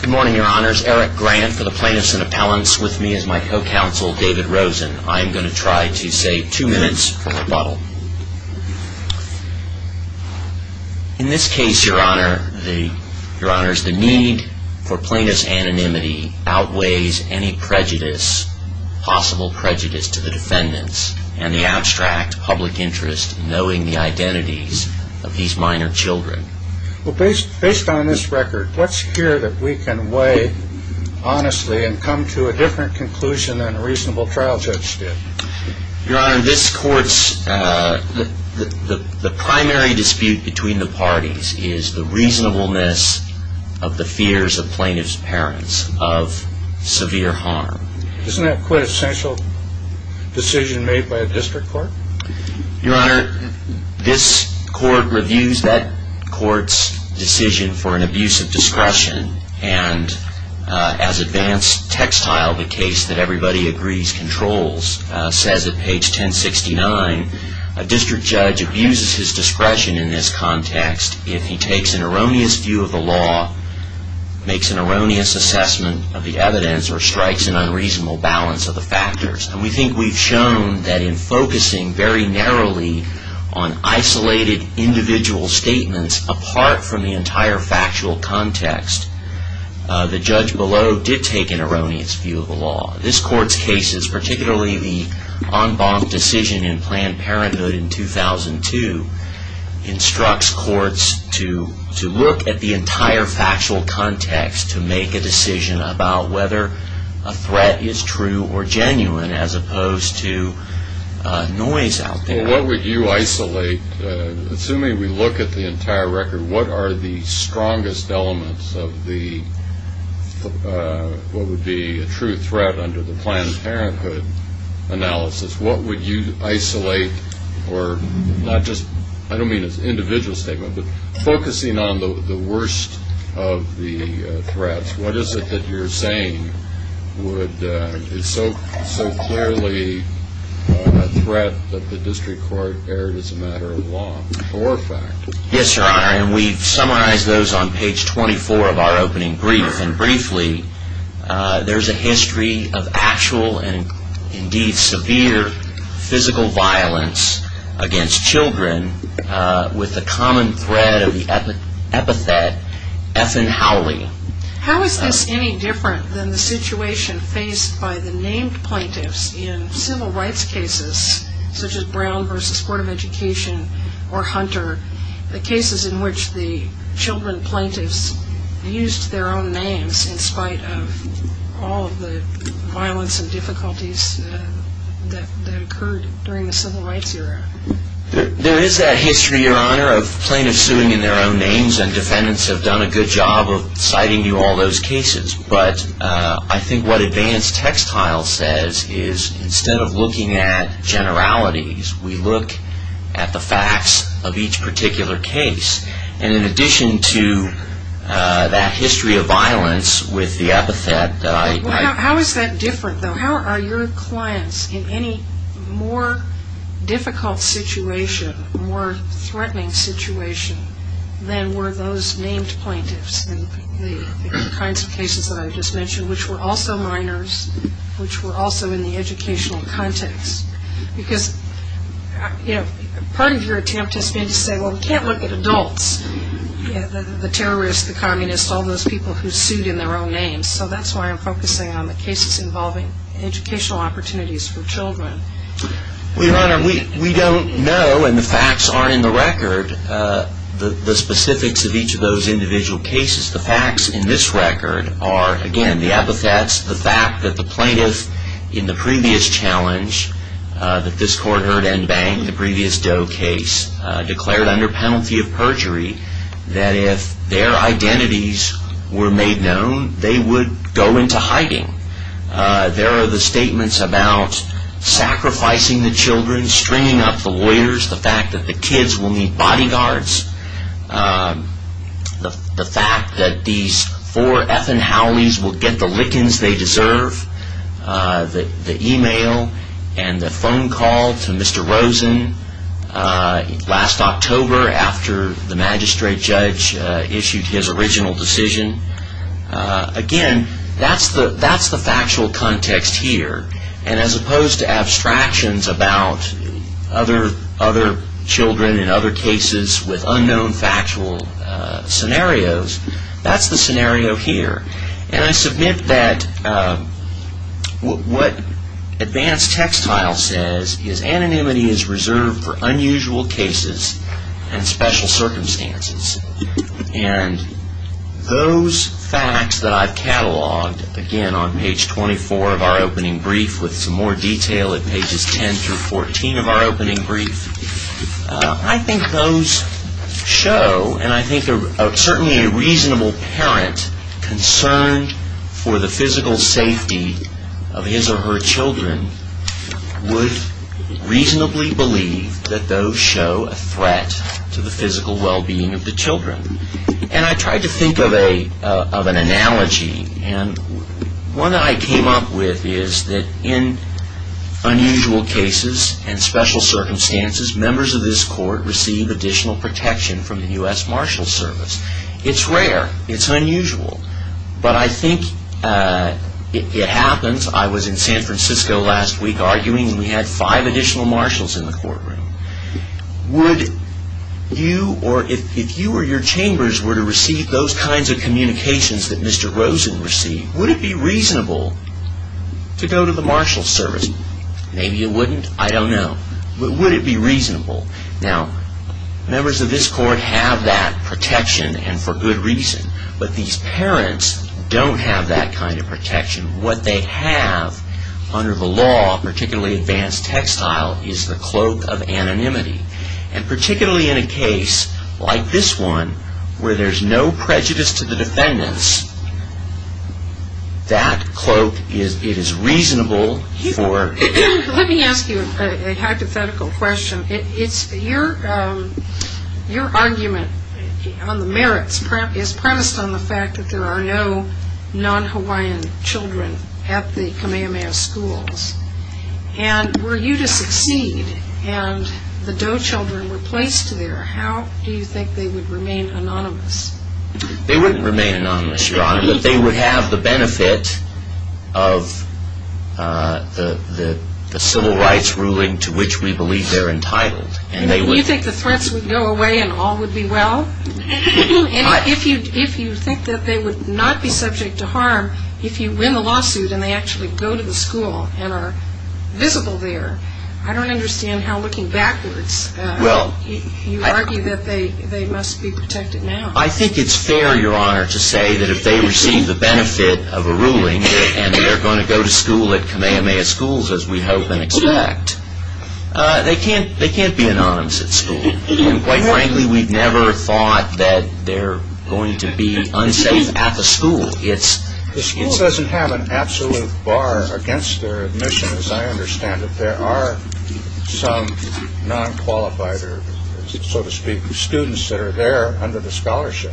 Good morning, your honors. Eric Grant for the Plaintiffs' Inappellence. With me is my co-counsel David Rosen. I am going to try to save two minutes from rebuttal. In this case, your honors, the need for plaintiff's anonymity outweighs any possible prejudice to the defendants and the abstract public interest in knowing the identities of these minor children. Based on this record, what's here that we can weigh honestly and come to a different conclusion than a reasonable trial judge did? Your honor, this court's primary dispute between the parties is the reasonableness of the fears of plaintiff's parents of severe harm. Isn't that quite an essential decision made by a district court? Your honor, this court reviews that court's decision for an abuse of discretion, and as advanced textile, the case that everybody agrees controls, says at page 1069, a district judge abuses his discretion in this context if he takes an erroneous view of the law, makes an erroneous assessment of the evidence, or strikes an unreasonable balance of the factors. We think we've shown that in focusing very narrowly on isolated individual statements apart from the entire factual context, the judge below did take an erroneous view of the law. This court's cases, particularly the en banc decision in Planned Parenthood in 2002, instructs courts to look at the entire factual context to make a decision about whether a threat is true or genuine as opposed to noise out there. Well, what would you isolate? Assuming we look at the entire record, what are the strongest elements of what would be a true threat under the Planned Parenthood analysis? What would you isolate? I don't mean as an individual statement, but focusing on the worst of the threats, what is it that you're saying is so clearly a threat that the district court erred as a matter of law or fact? Yes, Your Honor, and we've summarized those on page 24 of our opening brief, and briefly, there's a history of actual and indeed severe physical violence against children with the common thread of the epithet, Effen Howley. How is this any different than the situation faced by the named plaintiffs in civil rights cases such as Brown v. Court of Education or Hunter, the cases in which the children plaintiffs used their own names in spite of all of the violence and difficulties that occurred during the civil rights era? There is that history, Your Honor, of plaintiffs suing in their own names, and defendants have done a good job of citing you all those cases, but I think what advanced textile says is instead of looking at generalities, we look at the facts of each particular case, and in addition to that history of violence with the epithet that I... How is that different, though? How are your clients in any more difficult situation, more threatening situation, than were those named plaintiffs in the kinds of cases that I just mentioned, which were also minors, which were also in the educational context? Because part of your attempt has been to say, well, we can't look at adults, the terrorists, the communists, all those people who sued in their own names, so that's why I'm focusing on the cases involving educational opportunities for children. Well, Your Honor, we don't know, and the facts aren't in the record, the specifics of each of those individual cases. The facts in this record are, again, the epithets, the fact that the plaintiff in the previous challenge, that this court heard en banc, the previous Doe case, declared under penalty of perjury that if their identities were made known, they would go into hiding. There are the statements about sacrificing the children, stringing up the lawyers, the fact that the kids will need bodyguards, the fact that these four effing Howleys will get the lickings they deserve, the email and the phone call to Mr. Rosen last October after the magistrate judge issued his original decision. Again, that's the factual context here, and as opposed to abstractions about other children in other cases with unknown factual scenarios, that's the scenario here. And I submit that what advanced textile says is anonymity is reserved for unusual cases and special circumstances. And those facts that I've catalogued, again, on page 24 of our opening brief with some more detail at pages 10 through 14 of our opening brief, I think those show, and I think certainly a reasonable parent concerned for the physical safety of his or her children would reasonably believe that those show a threat to the physical well-being of their children. And I tried to think of an analogy, and one that I came up with is that in unusual cases and special circumstances, members of this court receive additional protection from the U.S. Marshals Service. It's rare. It's unusual. But I think it happens. I was in San Francisco last week arguing, and we had five additional marshals in the courtroom. If you or your chambers were to receive those kinds of communications that Mr. Rosen received, would it be reasonable to go to the Marshals Service? Maybe it wouldn't. I don't know. But would it be reasonable? Now, members of this court have that protection, and for good reason. But these parents don't have that kind of protection. What they have under the law, particularly advanced textile, is the cloak of anonymity. And particularly in a case like this one where there's no prejudice to the defendants, that cloak, it is reasonable for ---- Let me ask you a hypothetical question. Your argument on the merits is premised on the fact that there are no non-Hawaiian children at the Kamehameha schools. And were you to succeed and the Doe children replaced there, how do you think they would remain anonymous? They wouldn't remain anonymous, Your Honor. They would have the benefit of the civil rights ruling to which we believe they're entitled. You think the threats would go away and all would be well? If you think that they would not be subject to harm, if you win the lawsuit and they actually go to the school and are visible there, I don't understand how, looking backwards, you argue that they must be protected now. I think it's fair, Your Honor, to say that if they receive the benefit of a ruling and they're going to go to school at Kamehameha schools, as we hope and expect, they can't be anonymous at school. And quite frankly, we've never thought that they're going to be unsafe at the school. The school doesn't have an absolute bar against their admission, as I understand it. There are some non-qualified, so to speak, students that are there under the scholarship.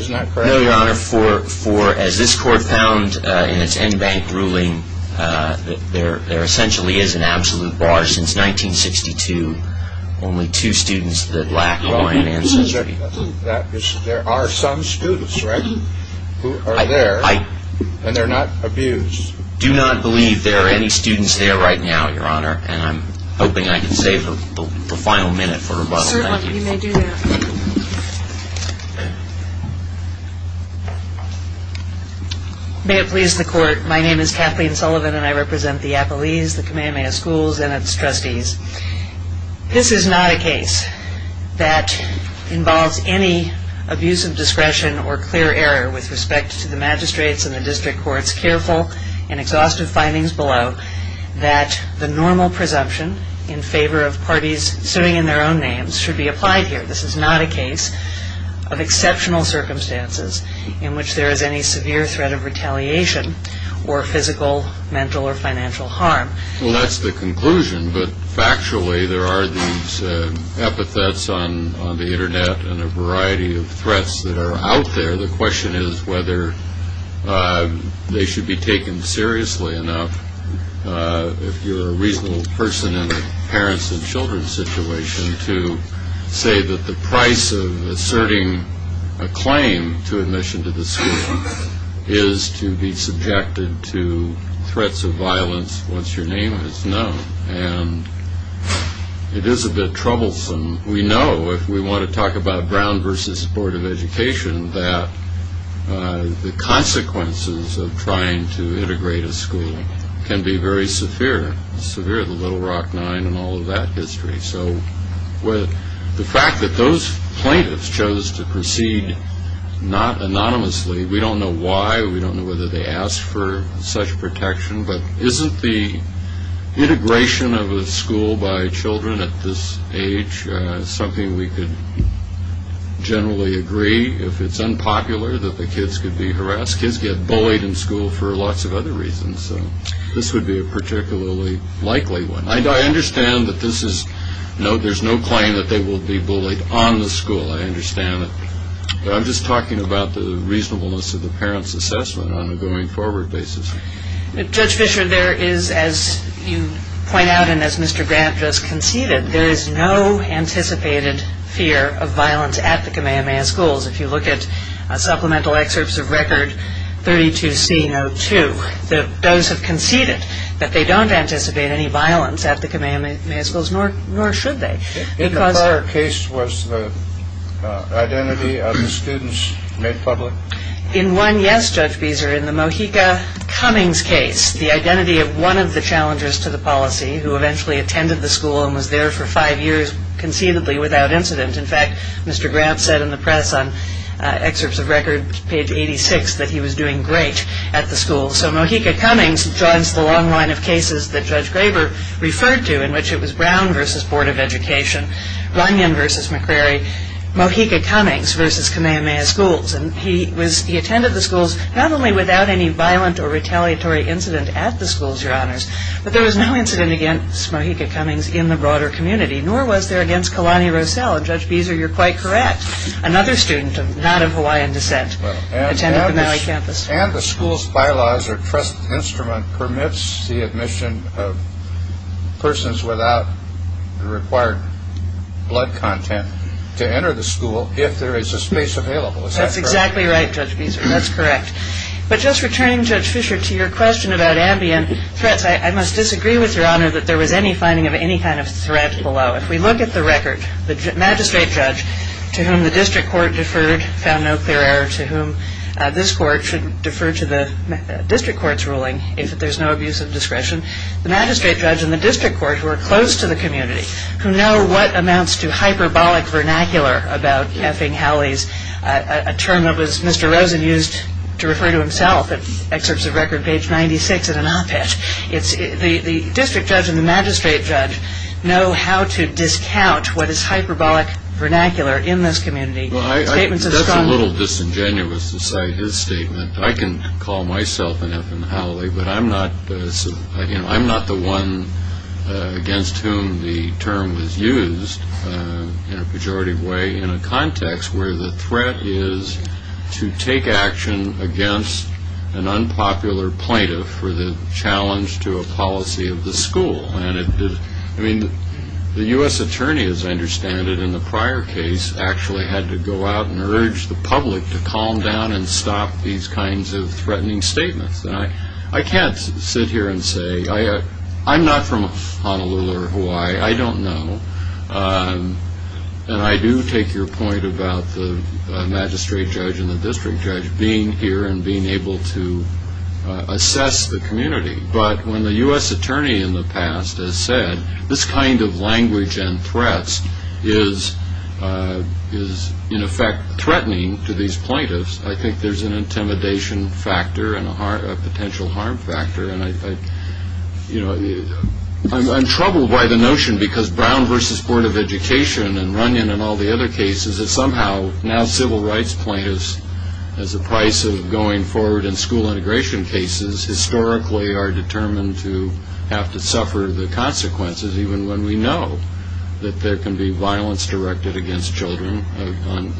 Isn't that correct? No, Your Honor. As this court found in its en banc ruling, there essentially is an absolute bar. Since 1962, only two students that lack Hawaiian ancestry. There are some students, right, who are there and they're not abused. I do not believe there are any students there right now, Your Honor, and I'm hoping I can save the final minute for rebuttal. Certainly, you may do that. May it please the court, my name is Kathleen Sullivan and I represent the Appalese, the Kamehameha schools, and its trustees. This is not a case that involves any abuse of discretion or clear error with respect to the magistrates and the district courts. Careful and exhaustive findings below that the normal presumption in favor of parties suing in their own names should be applied here. This is not a case of exceptional circumstances in which there is any severe threat of retaliation or physical, mental, or financial harm. Well, that's the conclusion, but factually there are these epithets on the Internet and a variety of threats that are out there. The question is whether they should be taken seriously enough. If you're a reasonable person in a parents and children's situation to say that the price of asserting a claim to admission to the school is to be subjected to threats of violence once your name is known, and it is a bit troublesome. We know if we want to talk about Brown versus Board of Education that the consequences of trying to integrate a school can be very severe. Severe, the Little Rock Nine and all of that history. So the fact that those plaintiffs chose to proceed not anonymously, we don't know why. We don't know whether they asked for such protection. But isn't the integration of a school by children at this age something we could generally agree, if it's unpopular, that the kids could be harassed? Kids get bullied in school for lots of other reasons. So this would be a particularly likely one. I understand that there's no claim that they will be bullied on the school. I understand that. But I'm just talking about the reasonableness of the parents' assessment on a going-forward basis. Judge Fischer, there is, as you point out and as Mr. Grant just conceded, there is no anticipated fear of violence at the Kamehameha schools. If you look at supplemental excerpts of Record 32C02, those have conceded that they don't anticipate any violence at the Kamehameha schools, nor should they. In the prior case, was the identity of the students made public? In one, yes, Judge Beeser. In the Mohica Cummings case, the identity of one of the challengers to the policy, who eventually attended the school and was there for five years conceivably without incident. In fact, Mr. Grant said in the press on excerpts of Record page 86 that he was doing great at the school. So Mohica Cummings joins the long line of cases that Judge Graber referred to, in which it was Brown v. Board of Education, Runyon v. McCrary, Mohica Cummings v. Kamehameha schools. And he attended the schools not only without any violent or retaliatory incident at the schools, Your Honors, but there was no incident against Mohica Cummings in the broader community, nor was there against Kalani Roselle. And, Judge Beeser, you're quite correct. Another student not of Hawaiian descent attended the Maui campus. And the school's bylaws or trust instrument permits the admission of persons without required blood content to enter the school if there is a space available. Is that correct? That's exactly right, Judge Beeser. That's correct. But just returning, Judge Fischer, to your question about ambient threats, I must disagree with Your Honor that there was any finding of any kind of threat below. If we look at the record, the magistrate judge to whom the district court deferred found no clear error, to whom this court should defer to the district court's ruling if there's no abuse of discretion, the magistrate judge and the district court who are close to the community, who know what amounts to hyperbolic vernacular about effing Halleys, a term that was Mr. Rosen used to refer to himself in excerpts of record page 96 in an op-ed. The district judge and the magistrate judge know how to discount what is hyperbolic vernacular in this community. That's a little disingenuous to cite his statement. I can call myself an effing Halley, but I'm not the one against whom the term was used in a pejorative way in a context where the threat is to take action against an unpopular plaintiff for the challenge to a policy of the school. The U.S. attorney, as I understand it in the prior case, actually had to go out and urge the public to calm down and stop these kinds of threatening statements. I can't sit here and say I'm not from Honolulu or Hawaii. I don't know. And I do take your point about the magistrate judge and the district judge being here and being able to assess the community. But when the U.S. attorney in the past has said this kind of language and threats is in effect threatening to these plaintiffs, I think there's an intimidation factor and a potential harm factor. I'm troubled by the notion because Brown v. Board of Education and Runyon and all the other cases that somehow now civil rights plaintiffs as a price of going forward in school integration cases historically are determined to have to suffer the consequences even when we know that there can be violence directed against children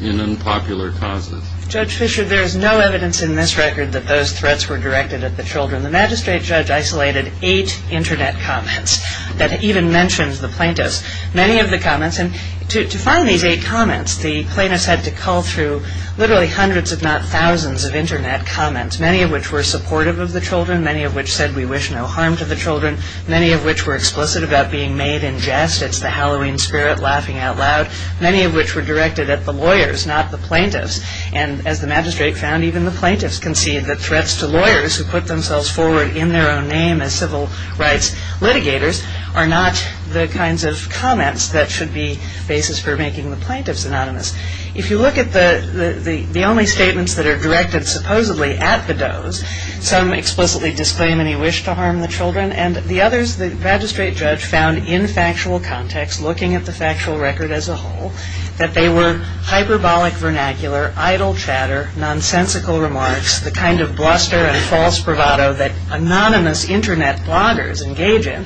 in unpopular causes. Judge Fischer, there is no evidence in this record that those threats were directed at the children. The magistrate judge isolated eight Internet comments that even mentioned the plaintiffs. Many of the comments, and to find these eight comments, the plaintiffs had to call through literally hundreds if not thousands of Internet comments, many of which were supportive of the children, many of which said we wish no harm to the children, many of which were explicit about being made in jest. It's the Halloween spirit laughing out loud. Many of which were directed at the lawyers, not the plaintiffs. And as the magistrate found, even the plaintiffs concede that threats to lawyers who put themselves forward in their own name as civil rights litigators are not the kinds of comments that should be basis for making the plaintiffs anonymous. If you look at the only statements that are directed supposedly at the does, some explicitly disclaim any wish to harm the children, and the others the magistrate judge found in factual context looking at the factual record as a whole that they were hyperbolic vernacular, idle chatter, nonsensical remarks, the kind of bluster and false bravado that anonymous Internet bloggers engage in.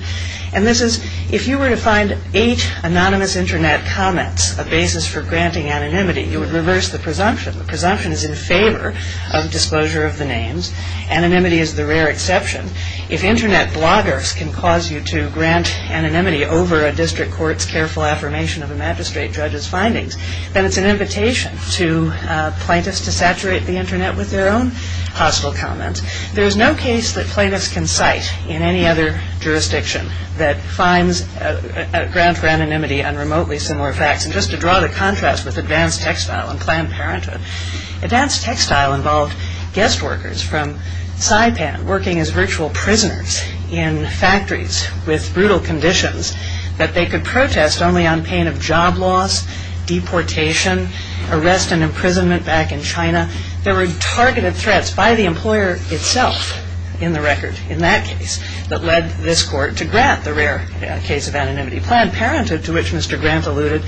And this is, if you were to find eight anonymous Internet comments a basis for granting anonymity, you would reverse the presumption. The presumption is in favor of disclosure of the names. Anonymity is the rare exception. If Internet bloggers can cause you to grant anonymity over a district court's careful affirmation of a magistrate judge's findings, then it's an invitation to plaintiffs to saturate the Internet with their own hostile comments. There is no case that plaintiffs can cite in any other jurisdiction that finds a grant for anonymity on remotely similar facts. And just to draw the contrast with advanced textile and Planned Parenthood, advanced textile involved guest workers from Saipan working as virtual prisoners in factories with brutal conditions that they could protest only on pain of job loss, deportation, arrest and imprisonment back in China. There were targeted threats by the employer itself in the record in that case that led this court to grant the rare case of anonymity. Planned Parenthood, to which Mr. Grant alluded,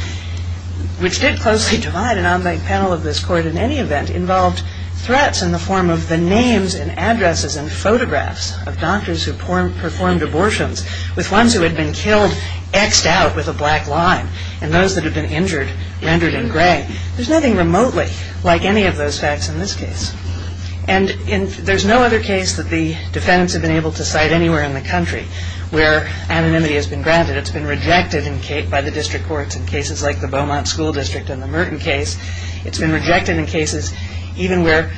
which did closely divide an online panel of this court in any event, involved threats in the form of the names and addresses and photographs of doctors who performed abortions with ones who had been killed X'd out with a black line and those that had been injured rendered in gray. There's nothing remotely like any of those facts in this case. And there's no other case that the defendants have been able to cite anywhere in the country where anonymity has been granted. It's been rejected by the district courts in cases like the Beaumont School District and the Merton case. It's been rejected in cases even where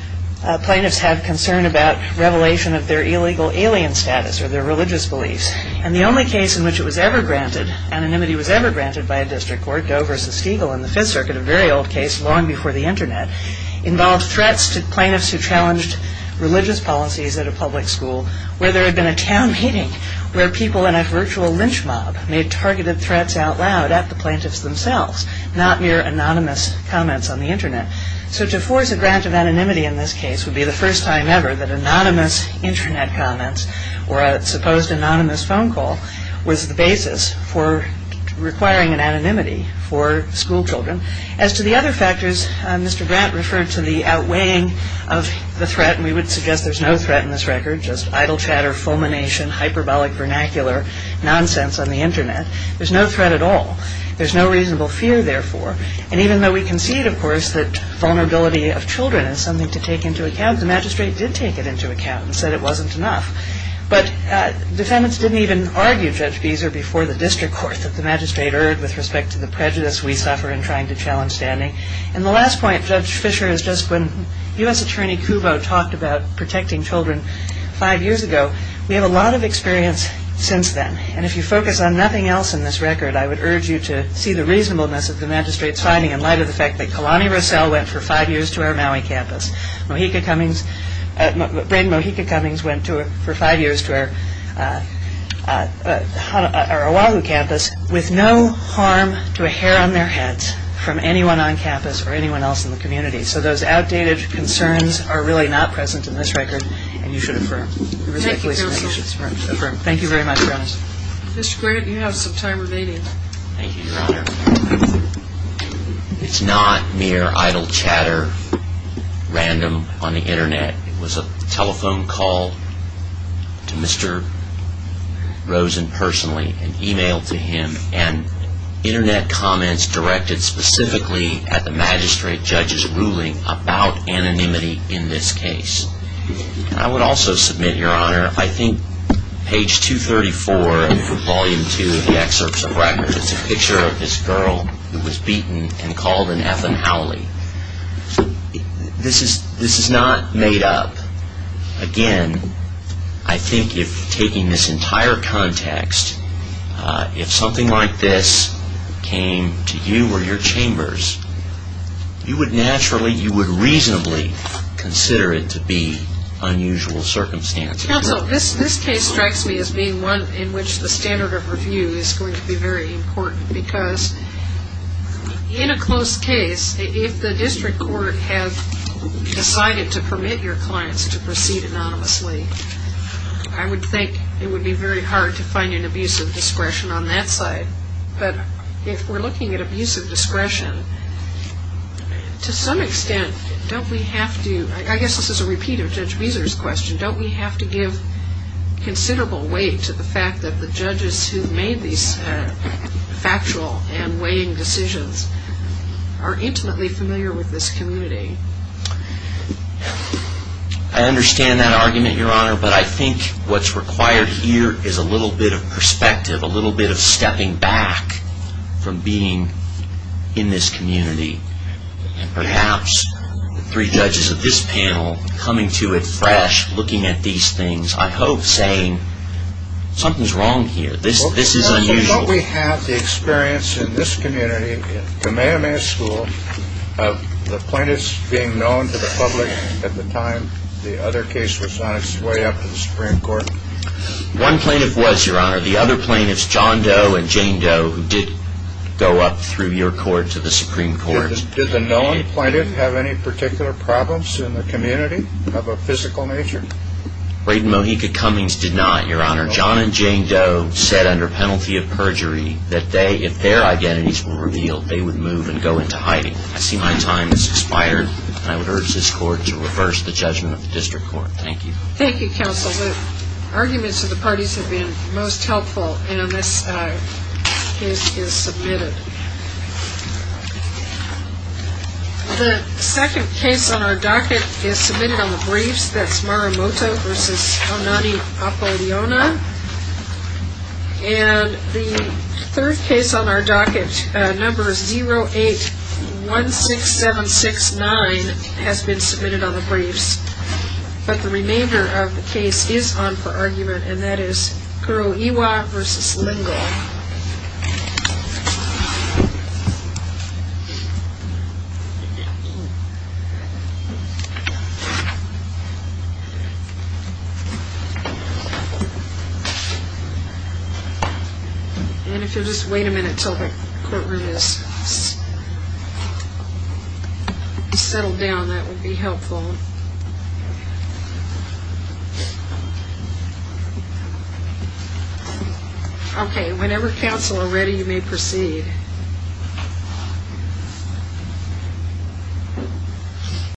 plaintiffs have concern about revelation of their illegal alien status or their religious beliefs. And the only case in which it was ever granted, anonymity was ever granted by a district court, Doe v. Stiegel in the Fifth Circuit, a very old case long before the Internet, involved threats to plaintiffs who challenged religious policies at a public school where there had been a town meeting where people in a virtual lynch mob made targeted threats out loud at the plaintiffs themselves, not mere anonymous comments on the Internet. So to force a grant of anonymity in this case would be the first time ever that anonymous Internet comments or a supposed anonymous phone call was the basis for requiring an anonymity for school children. As to the other factors, Mr. Grant referred to the outweighing of the threat, and we would suggest there's no threat in this record, just idle chatter, fulmination, hyperbolic vernacular nonsense on the Internet. There's no threat at all. There's no reasonable fear, therefore. And even though we concede, of course, that vulnerability of children is something to take into account, the magistrate did take it into account and said it wasn't enough. But defendants didn't even argue, Judge Beezer, before the district court that the magistrate erred with respect to the prejudice we suffer in trying to challenge standing. And the last point, Judge Fischer, is just when U.S. Attorney Cubo talked about protecting children five years ago, we have a lot of experience since then. And if you focus on nothing else in this record, I would urge you to see the reasonableness of the magistrate's finding in light of the fact that Kalani Rossell went for five years to our Maui campus. Brain Mohica Cummings went for five years to our Oahu campus with no harm to a hair on their heads from anyone on campus or anyone else in the community. So those outdated concerns are really not present in this record, and you should affirm. Thank you, counsel. Thank you very much for having us. Mr. Grant, you have some time remaining. Thank you, Your Honor. It's not mere idle chatter, random, on the Internet. It was a telephone call to Mr. Rosen personally, an email to him, and Internet comments directed specifically at the magistrate judge's ruling about anonymity in this case. I would also submit, Your Honor, I think page 234 of volume two of the excerpts of records, it's a picture of this girl who was beaten and called an Ethan Howley. This is not made up. Again, I think if taking this entire context, if something like this came to you or your chambers, you would naturally, you would reasonably consider it to be unusual circumstances. Counsel, this case strikes me as being one in which the standard of review is going to be very important because in a close case, if the district court had decided to permit your clients to proceed anonymously, I would think it would be very hard to find an abuse of discretion on that side. But if we're looking at abuse of discretion, to some extent, don't we have to, I guess this is a repeat of Judge Beezer's question, don't we have to give considerable weight to the fact that the judges who made these factual and weighing decisions are intimately familiar with this community? I understand that argument, Your Honor, but I think what's required here is a little bit of perspective, a little bit of stepping back from being in this community. And perhaps the three judges of this panel coming to it fresh, looking at these things, I hope saying, something's wrong here, this is unusual. Don't we have the experience in this community, in the Mammoth School, of the plaintiffs being known to the public at the time the other case was on its way up to the Supreme Court? One plaintiff was, Your Honor. The other plaintiffs, John Doe and Jane Doe, who did go up through your court to the Supreme Court. Did the known plaintiff have any particular problems in the community of a physical nature? Braden Mohica Cummings did not, Your Honor. John and Jane Doe said under penalty of perjury that if their identities were revealed, they would move and go into hiding. I see my time has expired, and I would urge this Court to reverse the judgment of the District Court. Thank you. Thank you, Counsel. The arguments of the parties have been most helpful, and this case is submitted. The second case on our docket is submitted on the briefs. That's Marumoto v. Onani Apolliona. And the third case on our docket, number 0816769, has been submitted on the briefs. But the remainder of the case is on for argument, and that is Curlew Ewie v. Lingle. And if you'll just wait a minute until the courtroom is settled down, that would be helpful. Okay, whenever, Counsel, are ready, you may proceed.